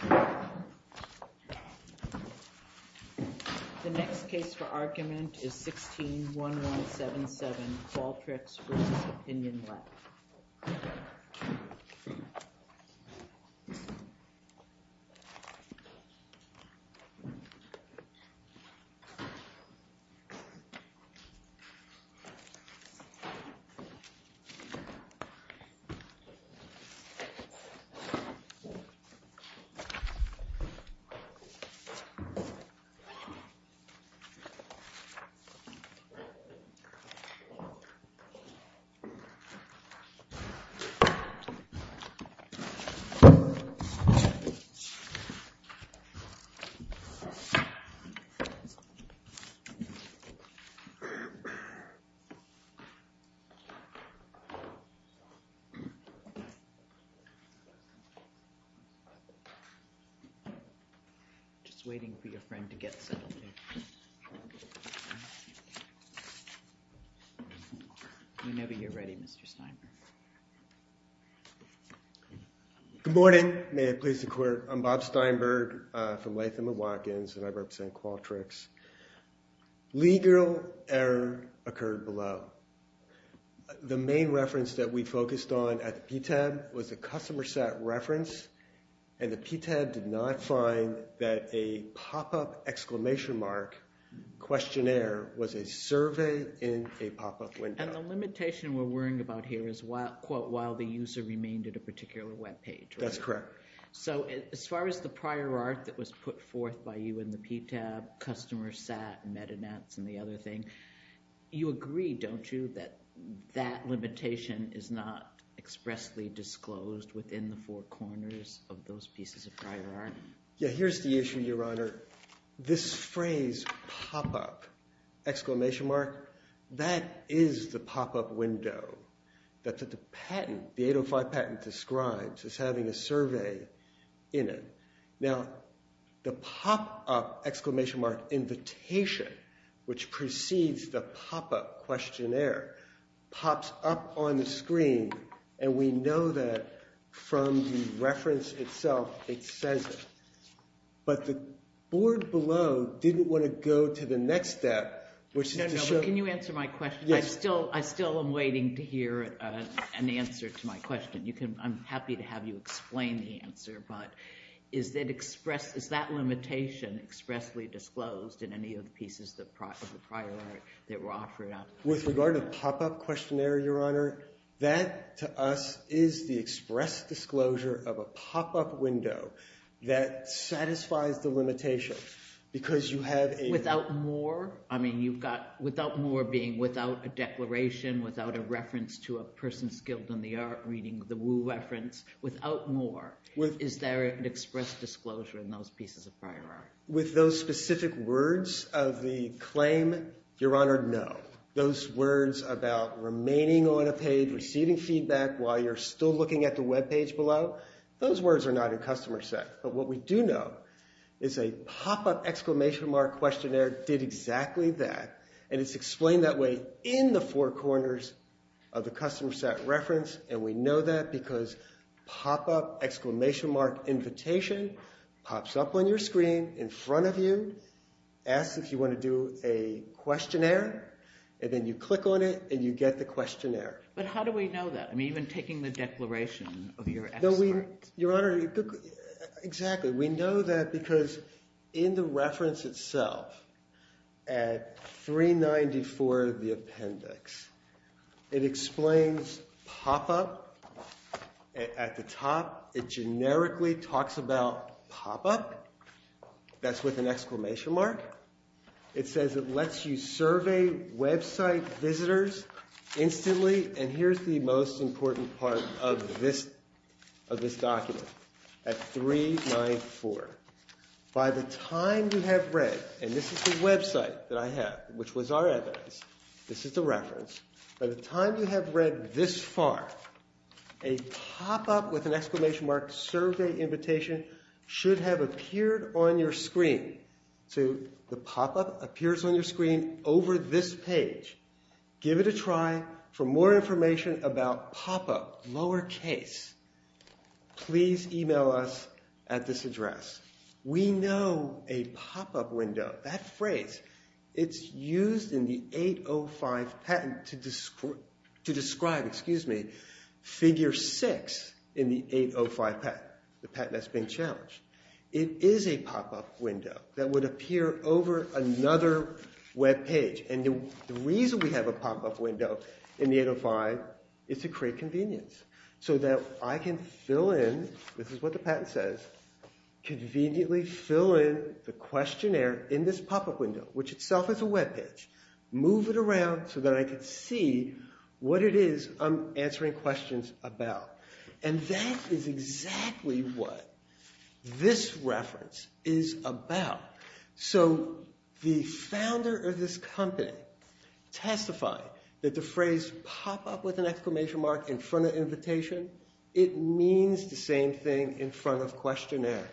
The next case for argument is 16-1177, Baltrics v. Opinion Lab. This is a case for argument 16-1177, Just waiting for your friend to get settled here. Whenever you're ready, Mr. Steinberg. Good morning. May it please the court. I'm Bob Steinberg from Latham & Watkins, and I represent Qualtrics. Legal error occurred below. The main reference that we focused on at the PTAB was the customer set reference, and the PTAB did not find that a pop-up exclamation mark questionnaire was a survey in a pop-up window. And the limitation we're worrying about here is, quote, while the user remained at a particular webpage, right? That's correct. So as far as the prior art that was put forth by you in the PTAB, customer set, meta nets, and the other thing, you agree, don't you, that that limitation is not expressly disclosed within the four corners of those pieces of prior art? Yeah, here's the issue, Your Honor. This phrase, pop-up, exclamation mark, that is the pop-up window that the patent, the 805 patent, describes as having a survey in it. Now, the pop-up, exclamation mark, invitation, which precedes the pop-up questionnaire, pops up on the screen, and we know that from the reference itself it says it. But the board below didn't want to go to the next step, which is to show— No, no, but can you answer my question? Yes. I still am waiting to hear an answer to my question. I'm happy to have you explain the answer, but is that limitation expressly disclosed in any of the pieces of the prior art that were offered out? With regard to pop-up questionnaire, Your Honor, that to us is the express disclosure of a pop-up window that satisfies the limitation because you have a— Without more? I mean, you've got without more being without a declaration, without a reference to a person skilled in the art reading the Wu reference, without more, is there an express disclosure in those pieces of prior art? With those specific words of the claim, Your Honor, no. Those words about remaining on a page, receiving feedback while you're still looking at the web page below, those words are not in customer set. But what we do know is a pop-up exclamation mark questionnaire did exactly that, and it's explained that way in the four corners of the customer set reference, and we know that because pop-up exclamation mark invitation pops up on your screen in front of you, asks if you want to do a questionnaire, and then you click on it and you get the questionnaire. But how do we know that? I mean, even taking the declaration of your expert. Your Honor, exactly. We know that because in the reference itself at 394 of the appendix, it explains pop-up at the top. It generically talks about pop-up. That's with an exclamation mark. It says it lets you survey website visitors instantly, and here's the most important part of this document at 394. By the time you have read, and this is the website that I have, which was our evidence, this is the reference. By the time you have read this far, a pop-up with an exclamation mark survey invitation should have appeared on your screen. So the pop-up appears on your screen over this page. Give it a try. For more information about pop-up, lower case, please email us at this address. We know a pop-up window, that phrase, it's used in the 805 patent to describe, excuse me, figure six in the 805 patent, the patent that's being challenged. It is a pop-up window that would appear over another webpage, and the reason we have a pop-up window in the 805 is to create convenience, so that I can fill in, this is what the patent says, conveniently fill in the questionnaire in this pop-up window, which itself is a webpage, move it around so that I can see what it is I'm answering questions about. And that is exactly what this reference is about. So the founder of this company testified that the phrase pop-up with an exclamation mark in front of invitation, it means the same thing in front of questionnaire.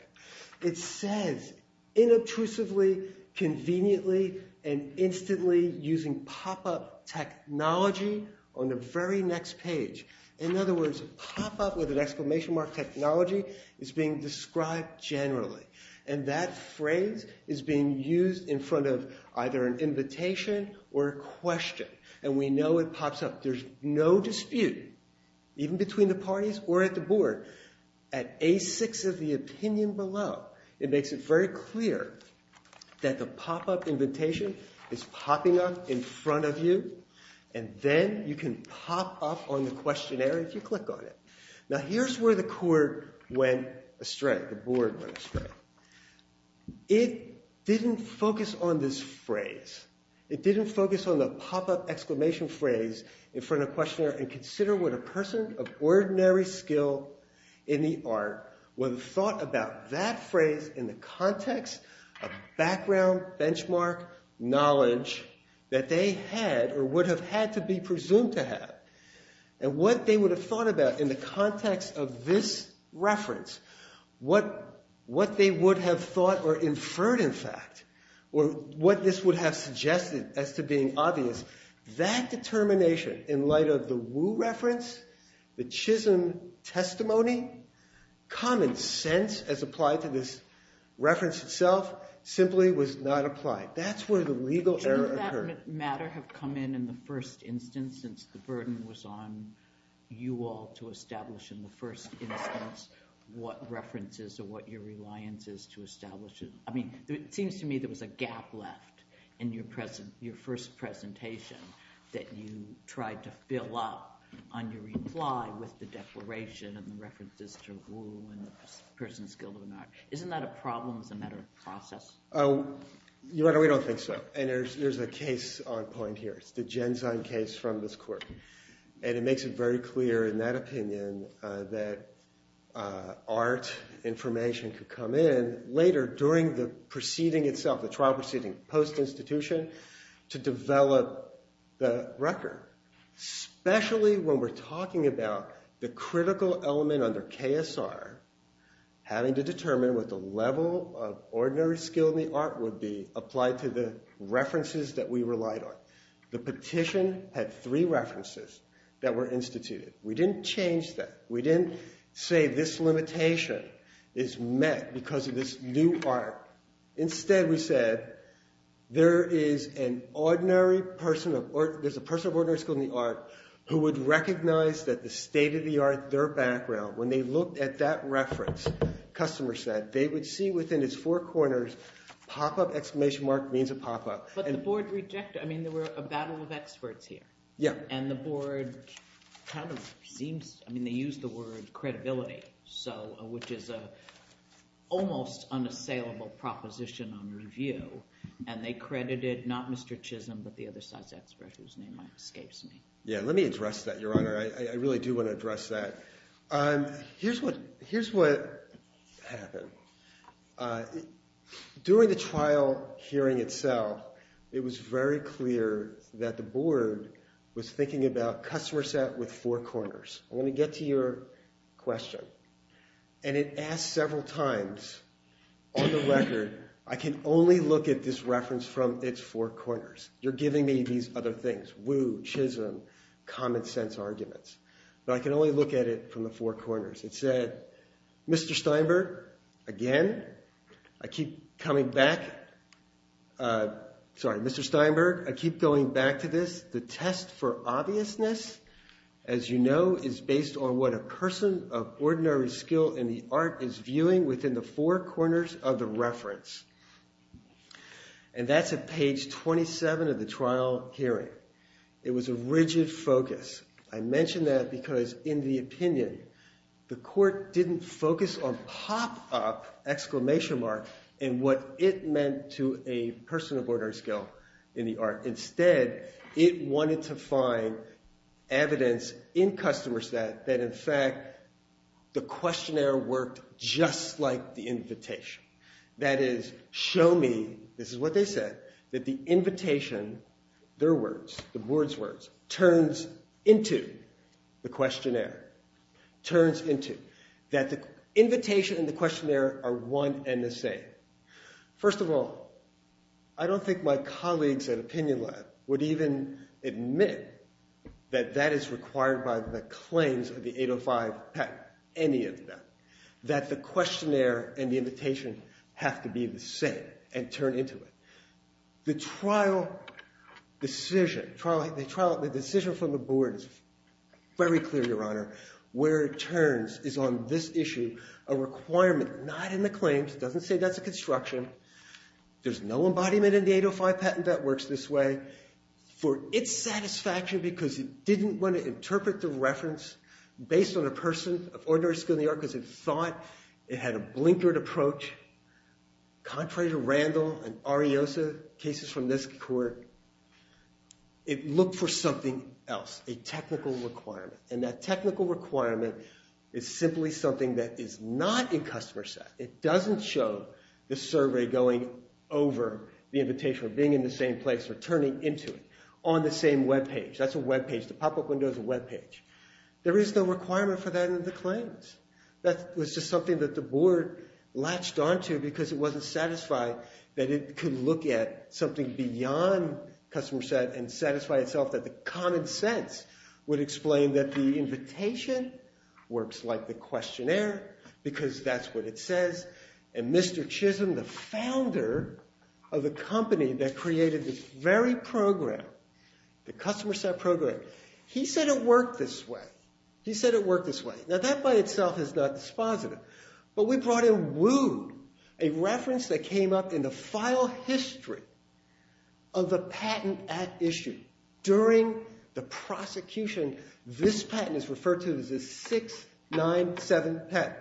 It says, inobtrusively, conveniently, and instantly using pop-up technology on the very next page. In other words, pop-up with an exclamation mark technology is being described generally. And that phrase is being used in front of either an invitation or a question. And we know it pops up, there's no dispute, even between the parties or at the board. At A6 of the opinion below, it makes it very clear that the pop-up invitation is popping up in front of you, and then you can pop up on the questionnaire if you click on it. Now here's where the court went astray, the board went astray. It didn't focus on this phrase. It didn't focus on the pop-up exclamation phrase in front of questionnaire and consider what a person of ordinary skill in the art would have thought about that phrase in the context of background, benchmark, knowledge that they had or would have had to be presumed to have. And what they would have thought about in the context of this reference, what they would have thought or inferred in fact, or what this would have suggested as to being obvious, that determination in light of the Wu reference, the Chisholm testimony, common sense as applied to this reference itself, simply was not applied. That's where the legal error occurred. Didn't that matter have come in in the first instance since the burden was on you all to establish in the first instance what references or what your reliance is to establish it? I mean, it seems to me there was a gap left in your first presentation that you tried to fill up on your reply with the declaration and the references to Wu and the person's skill in art. Isn't that a problem as a matter of process? Your Honor, we don't think so. And there's a case on point here. It's the Genzyme case from this court. And it makes it very clear in that opinion that art information could come in later during the proceeding itself, the trial proceeding post-institution, to develop the record. Especially when we're talking about the critical element under KSR having to determine what the level of ordinary skill in the art would be applied to the references that we relied on. The petition had three references that were instituted. We didn't change that. We didn't say this limitation is met because of this new art. Instead, we said there is a person of ordinary skill in the art who would recognize that the state of the art, their background, when they looked at that reference, customer said, they would see within its four corners pop-up exclamation mark means a pop-up. But the board rejected it. I mean, there were a battle of experts here. And the board kind of seems – I mean, they used the word credibility, which is an almost unassailable proposition on review. And they credited not Mr. Chisholm, but the other side's expert whose name escapes me. Yeah, let me address that, Your Honor. I really do want to address that. Here's what happened. During the trial hearing itself, it was very clear that the board was thinking about customer set with four corners. Let me get to your question. And it asked several times, on the record, I can only look at this reference from its four corners. You're giving me these other things, woo, chisholm, common sense arguments. But I can only look at it from the four corners. It said, Mr. Steinberg, again, I keep coming back. Sorry, Mr. Steinberg, I keep going back to this. The test for obviousness, as you know, is based on what a person of ordinary skill in the art is viewing within the four corners of the reference. And that's at page 27 of the trial hearing. It was a rigid focus. I mention that because, in the opinion, the court didn't focus on pop-up exclamation mark and what it meant to a person of ordinary skill in the art. Instead, it wanted to find evidence in customer set that, in fact, the questionnaire worked just like the invitation. That is, show me, this is what they said, that the invitation, their words, the board's words, turns into the questionnaire. Turns into. That the invitation and the questionnaire are one and the same. First of all, I don't think my colleagues at Opinion Lab would even admit that that is required by the claims of the 805 patent. Any of them. That the questionnaire and the invitation have to be the same and turn into it. The trial decision, the decision from the board is very clear, Your Honor. Where it turns is on this issue, a requirement not in the claims. It doesn't say that's a construction. There's no embodiment in the 805 patent that works this way. For its satisfaction, because it didn't want to interpret the reference based on a person of ordinary skill in the art because it thought it had a blinkered approach. Contrary to Randall and Ariosa, cases from this court, it looked for something else, a technical requirement. And that technical requirement is simply something that is not in customer set. It doesn't show the survey going over the invitation or being in the same place or turning into it on the same web page. That's a web page. The pop-up window is a web page. There is no requirement for that in the claims. That was just something that the board latched onto because it wasn't satisfied that it could look at something beyond customer set and satisfy itself. That the common sense would explain that the invitation works like the questionnaire because that's what it says. And Mr. Chisholm, the founder of the company that created this very program, the customer set program, he said it worked this way. He said it worked this way. Now that by itself is not dispositive. But we brought in Wu, a reference that came up in the file history of the Patent Act issue during the prosecution. This patent is referred to as the 697 patent.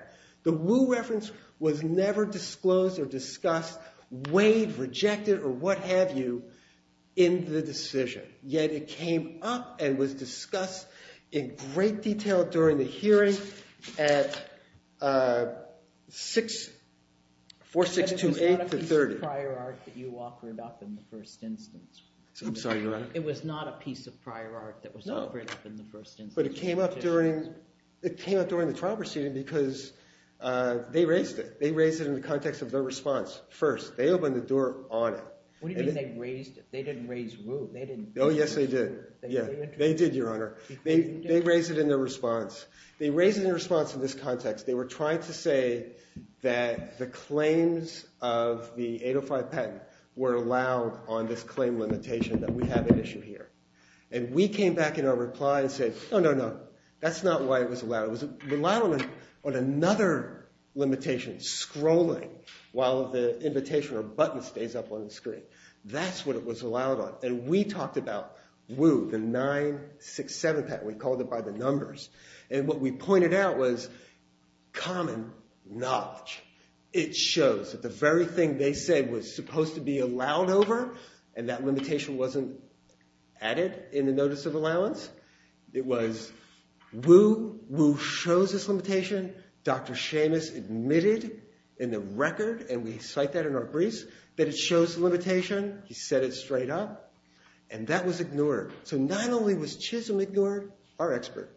The Wu reference was never disclosed or discussed, weighed, rejected, or what have you in the decision. Yet it came up and was discussed in great detail during the hearing at 4628 to 30. It was not a piece of prior art that you offered up in the first instance. I'm sorry. It was not a piece of prior art that was offered up in the first instance. But it came up during the trial proceeding because they raised it. They raised it in the context of their response first. They opened the door on it. What do you mean they raised it? They didn't raise Wu. Oh, yes, they did. They did, Your Honor. They raised it in their response. They raised it in response to this context. They were trying to say that the claims of the 805 patent were allowed on this claim limitation, that we have an issue here. And we came back in our reply and said, no, no, no. That's not why it was allowed. It was allowed on another limitation, scrolling, while the invitation or button stays up on the screen. That's what it was allowed on. And we talked about Wu, the 967 patent. We called it by the numbers. And what we pointed out was common knowledge. It shows that the very thing they said was supposed to be allowed over and that limitation wasn't added in the notice of allowance. It was Wu. Wu shows this limitation. Dr. Seamus admitted in the record, and we cite that in our briefs, that it shows the limitation. He set it straight up. And that was ignored. So not only was Chisholm ignored, our expert,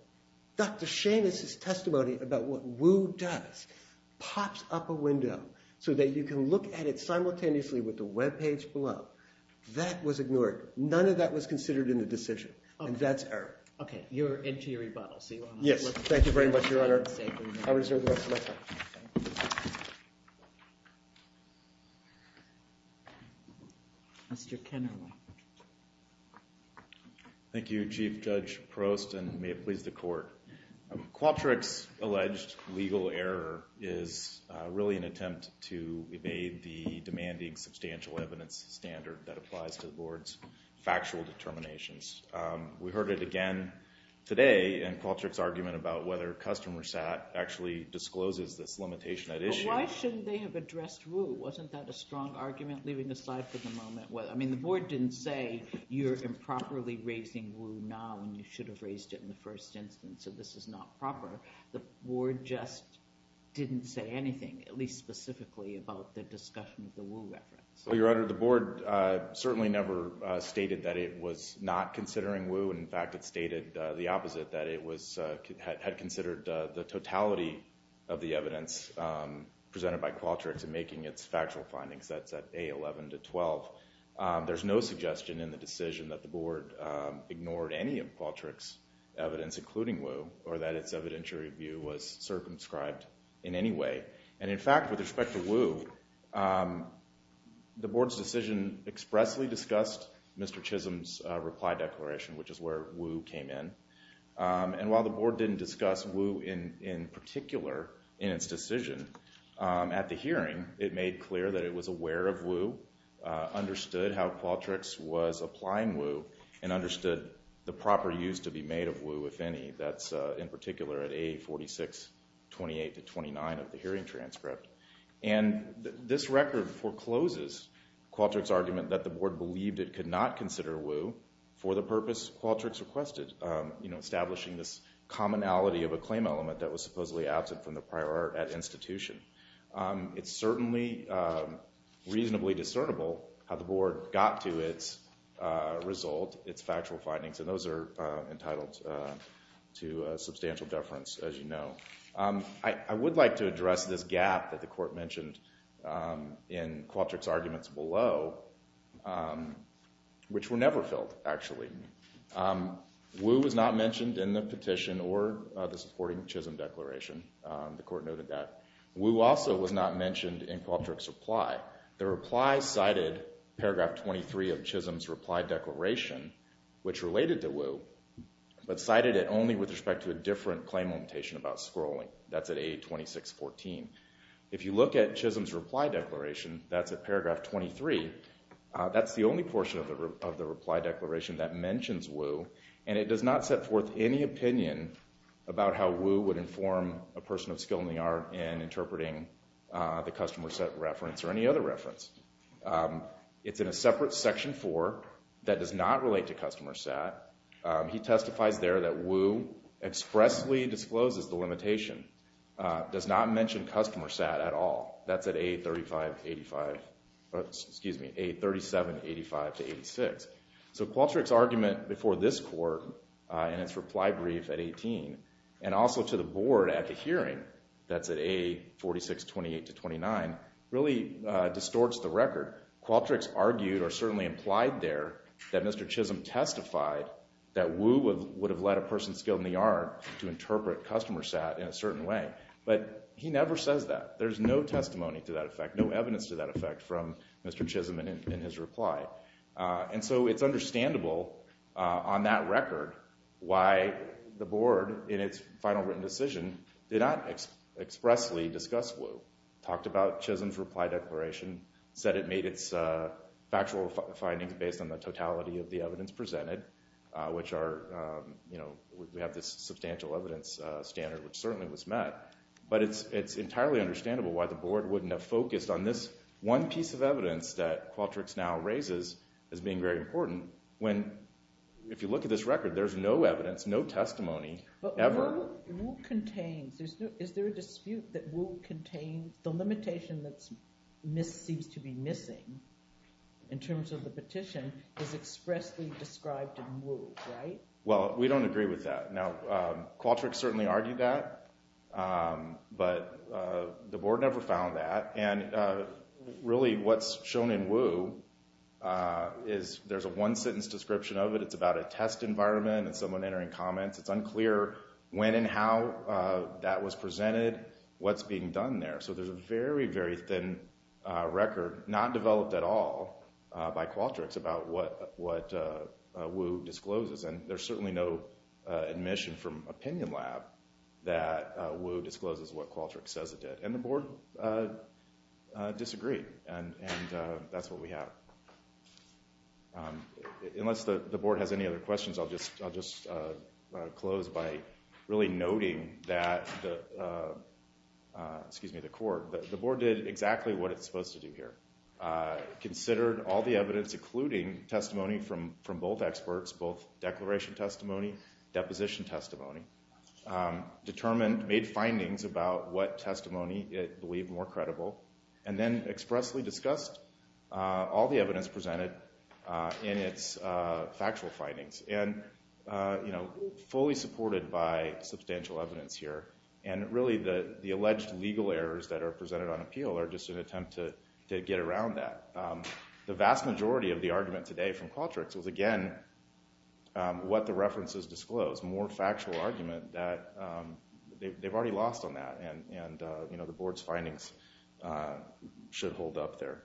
Dr. Seamus' testimony about what Wu does pops up a window so that you can look at it simultaneously with the web page below. That was ignored. None of that was considered in the decision. And that's error. Okay. Your interior rebuttal. Yes. Thank you very much, Your Honor. I reserve the rest of my time. Mr. Kennerly. Thank you, Chief Judge Prost, and may it please the Court. Qualtrics' alleged legal error is really an attempt to evade the demanding substantial evidence standard that applies to the Board's factual determinations. We heard it again today in Qualtrics' argument about whether customer SAT actually discloses this limitation at issue. But why shouldn't they have addressed Wu? Wasn't that a strong argument, leaving aside for the moment? I mean, the Board didn't say you're improperly raising Wu now and you should have raised it in the first instance, so this is not proper. The Board just didn't say anything, at least specifically, about the discussion of the Wu reference. Well, Your Honor, the Board certainly never stated that it was not considering Wu. In fact, it stated the opposite, that it had considered the totality of the evidence presented by Qualtrics in making its factual findings, that's at A11 to 12. There's no suggestion in the decision that the Board ignored any of Qualtrics' evidence, including Wu, or that its evidentiary view was circumscribed in any way. And in fact, with respect to Wu, the Board's decision expressly discussed Mr. Chisholm's reply declaration, which is where Wu came in. And while the Board didn't discuss Wu in particular in its decision, at the hearing, it made clear that it was aware of Wu, understood how Qualtrics was applying Wu, and understood the proper use to be made of Wu, if any. That's in particular at A46, 28 to 29 of the hearing transcript. And this record forecloses Qualtrics' argument that the Board believed it could not consider Wu for the purpose Qualtrics requested, establishing this commonality of a claim element that was supposedly absent from the prior art at institution. It's certainly reasonably discernible how the Board got to its result, its factual findings, and those are entitled to substantial deference, as you know. I would like to address this gap that the Court mentioned in Qualtrics' arguments below, which were never filled, actually. Wu was not mentioned in the petition or the supporting Chisholm declaration. The Court noted that. Wu also was not mentioned in Qualtrics' reply. The reply cited paragraph 23 of Chisholm's reply declaration, which related to Wu, but cited it only with respect to a different claim limitation about scrolling. That's at A2614. If you look at Chisholm's reply declaration, that's at paragraph 23. That's the only portion of the reply declaration that mentions Wu, and it does not set forth any opinion about how Wu would inform a person of skill in the art in interpreting the customer sat reference or any other reference. It's in a separate section 4 that does not relate to customer sat. He testifies there that Wu expressly discloses the limitation, does not mention customer sat at all. That's at A3785-86. So Qualtrics' argument before this Court in its reply brief at 18, and also to the Board at the hearing, that's at A4628-29, really distorts the record. Qualtrics argued or certainly implied there that Mr. Chisholm testified that Wu would have led a person's skill in the art to interpret customer sat in a certain way, but he never says that. There's no testimony to that effect, no evidence to that effect from Mr. Chisholm in his reply. And so it's understandable on that record why the Board, in its final written decision, did not expressly discuss Wu, talked about Chisholm's reply declaration, said it made its factual findings based on the totality of the evidence presented, which are, you know, we have this substantial evidence standard, which certainly was met. But it's entirely understandable why the Board wouldn't have focused on this one piece of evidence that Qualtrics now raises as being very important when, if you look at this record, there's no evidence, no testimony ever. But Wu contains. Is there a dispute that Wu contains? The limitation that seems to be missing in terms of the petition is expressly described in Wu, right? Well, we don't agree with that. Now, Qualtrics certainly argued that, but the Board never found that. And really what's shown in Wu is there's a one-sentence description of it. It's about a test environment and someone entering comments. It's unclear when and how that was presented, what's being done there. So there's a very, very thin record, not developed at all by Qualtrics, about what Wu discloses. And there's certainly no admission from Opinion Lab that Wu discloses what Qualtrics says it did. And the Board disagreed, and that's what we have. Unless the Board has any other questions, I'll just close by really noting that the Court, the Board did exactly what it's supposed to do here. Considered all the evidence, including testimony from both experts, both declaration testimony, deposition testimony. Determined, made findings about what testimony it believed more credible. And then expressly discussed all the evidence presented in its factual findings. And, you know, fully supported by substantial evidence here. And really the alleged legal errors that are presented on appeal are just an attempt to get around that. The vast majority of the argument today from Qualtrics was, again, what the references disclose. More factual argument that they've already lost on that. And, you know, the Board's findings should hold up there.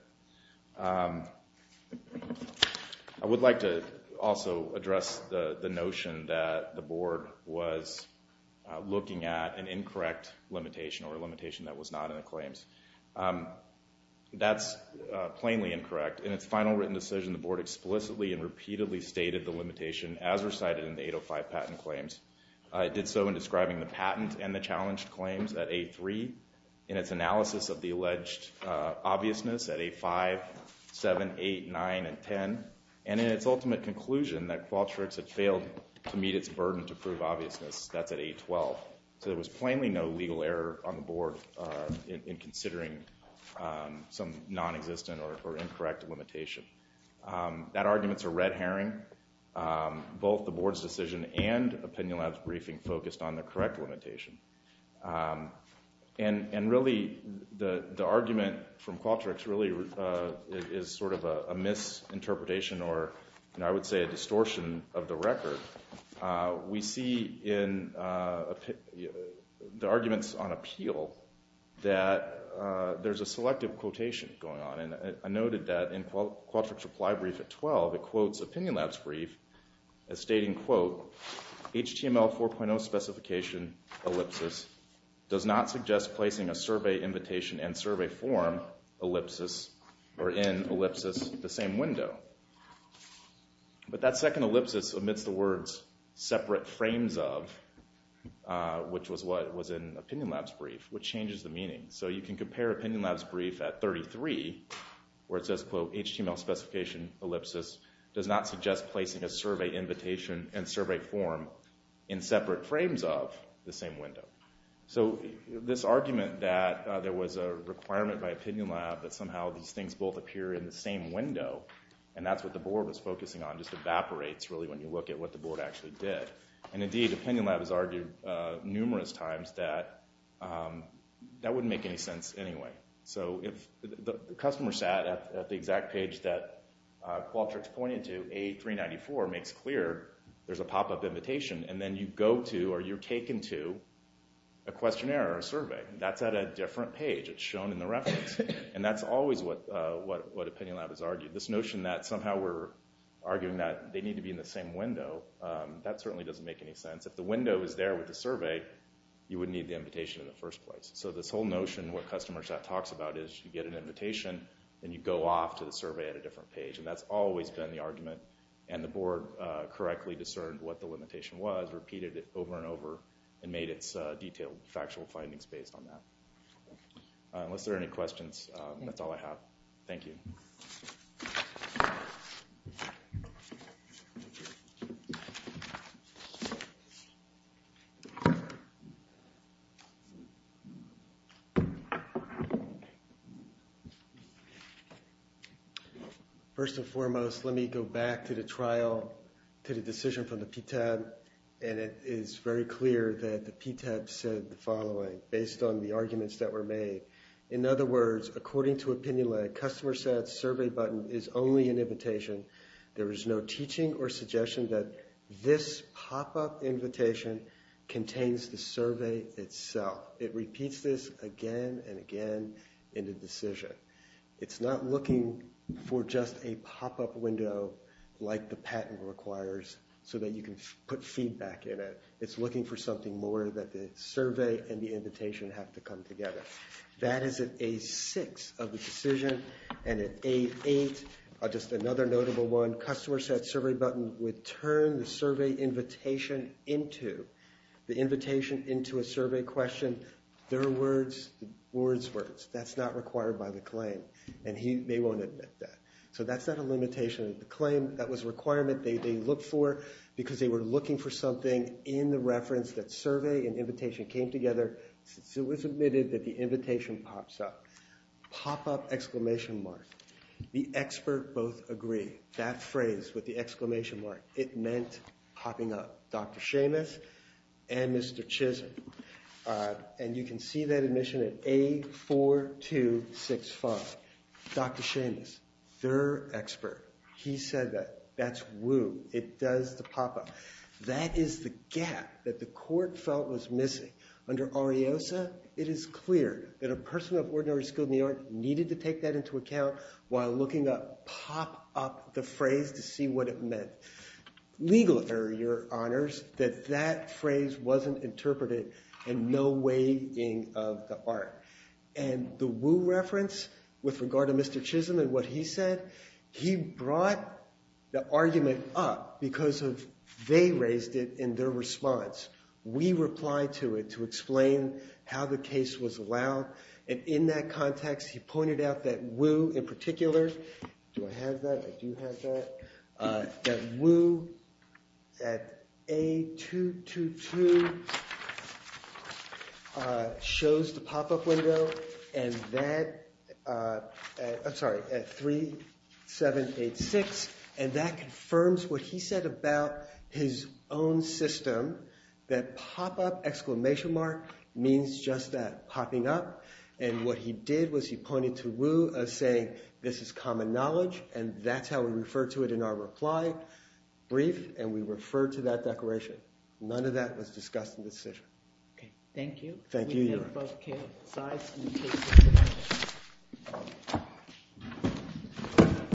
I would like to also address the notion that the Board was looking at an incorrect limitation or a limitation that was not in the claims. That's plainly incorrect. In its final written decision, the Board explicitly and repeatedly stated the limitation as recited in the 805 patent claims. It did so in describing the patent and the challenged claims at A3. In its analysis of the alleged obviousness at A5, 7, 8, 9, and 10. And in its ultimate conclusion that Qualtrics had failed to meet its burden to prove obviousness, that's at A12. So there was plainly no legal error on the Board in considering some non-existent or incorrect limitation. That argument's a red herring. Both the Board's decision and Opinion Lab's briefing focused on the correct limitation. And really, the argument from Qualtrics really is sort of a misinterpretation or, I would say, a distortion of the record. We see in the arguments on appeal that there's a selective quotation going on. And I noted that in Qualtrics' reply brief at 12, it quotes Opinion Lab's brief as stating, quote, HTML 4.0 specification ellipsis does not suggest placing a survey invitation and survey form ellipsis or in ellipsis the same window. But that second ellipsis omits the words separate frames of, which was what was in Opinion Lab's brief, which changes the meaning. So you can compare Opinion Lab's brief at 33, where it says, quote, HTML specification ellipsis does not suggest placing a survey invitation and survey form in separate frames of the same window. So this argument that there was a requirement by Opinion Lab that somehow these things both appear in the same window, and that's what the Board was focusing on, just evaporates really when you look at what the Board actually did. And indeed, Opinion Lab has argued numerous times that that wouldn't make any sense anyway. So if the customer sat at the exact page that Qualtrics pointed to, A394 makes clear there's a pop-up invitation, and then you go to or you're taken to a questionnaire or a survey, that's at a different page. It's shown in the reference, and that's always what Opinion Lab has argued. This notion that somehow we're arguing that they need to be in the same window, that certainly doesn't make any sense. If the window is there with the survey, you would need the invitation in the first place. So this whole notion what customer sat talks about is you get an invitation, then you go off to the survey at a different page, and that's always been the argument, and the Board correctly discerned what the limitation was, repeated it over and over, and made its detailed factual findings based on that. Unless there are any questions, that's all I have. Thank you. First and foremost, let me go back to the trial, to the decision from the PTAB, and it is very clear that the PTAB said the following, based on the arguments that were made. In other words, according to Opinion Lab, customer sat's survey button is only an invitation. There is no teaching or suggestion that this pop-up invitation contains the survey itself. It repeats this again and again in the decision. It's not looking for just a pop-up window like the patent requires so that you can put feedback in it. It's looking for something more that the survey and the invitation have to come together. That is at A6 of the decision, and at A8, just another notable one, customer sat's survey button would turn the survey invitation into a survey question. Their words, the board's words. That's not required by the claim, and they won't admit that. So that's not a limitation of the claim. That was a requirement they looked for because they were looking for something in the reference that survey and invitation came together, so it was admitted that the invitation pops up. Pop-up exclamation mark. The expert both agree. That phrase with the exclamation mark, it meant popping up. Dr. Seamus and Mr. Chisholm, and you can see that admission at A4265. Dr. Seamus, their expert, he said that that's woo. It does the pop-up. That is the gap that the court felt was missing. Under Ariosa, it is clear that a person of ordinary skill in the art needed to take that into account while looking up pop-up the phrase to see what it meant. Legal error, your honors, that that phrase wasn't interpreted in no way in the art. And the woo reference with regard to Mr. Chisholm and what he said, he brought the argument up because they raised it in their response. We replied to it to explain how the case was allowed, and in that context he pointed out that woo in particular, do I have that? I do have that. That woo at A222 shows the pop-up window at 3786, and that confirms what he said about his own system, that pop-up exclamation mark means just that, popping up. And what he did was he pointed to woo as saying this is common knowledge, and that's how we referred to it in our reply brief, and we referred to that declaration. None of that was discussed in the decision. Thank you. Thank you, your honor.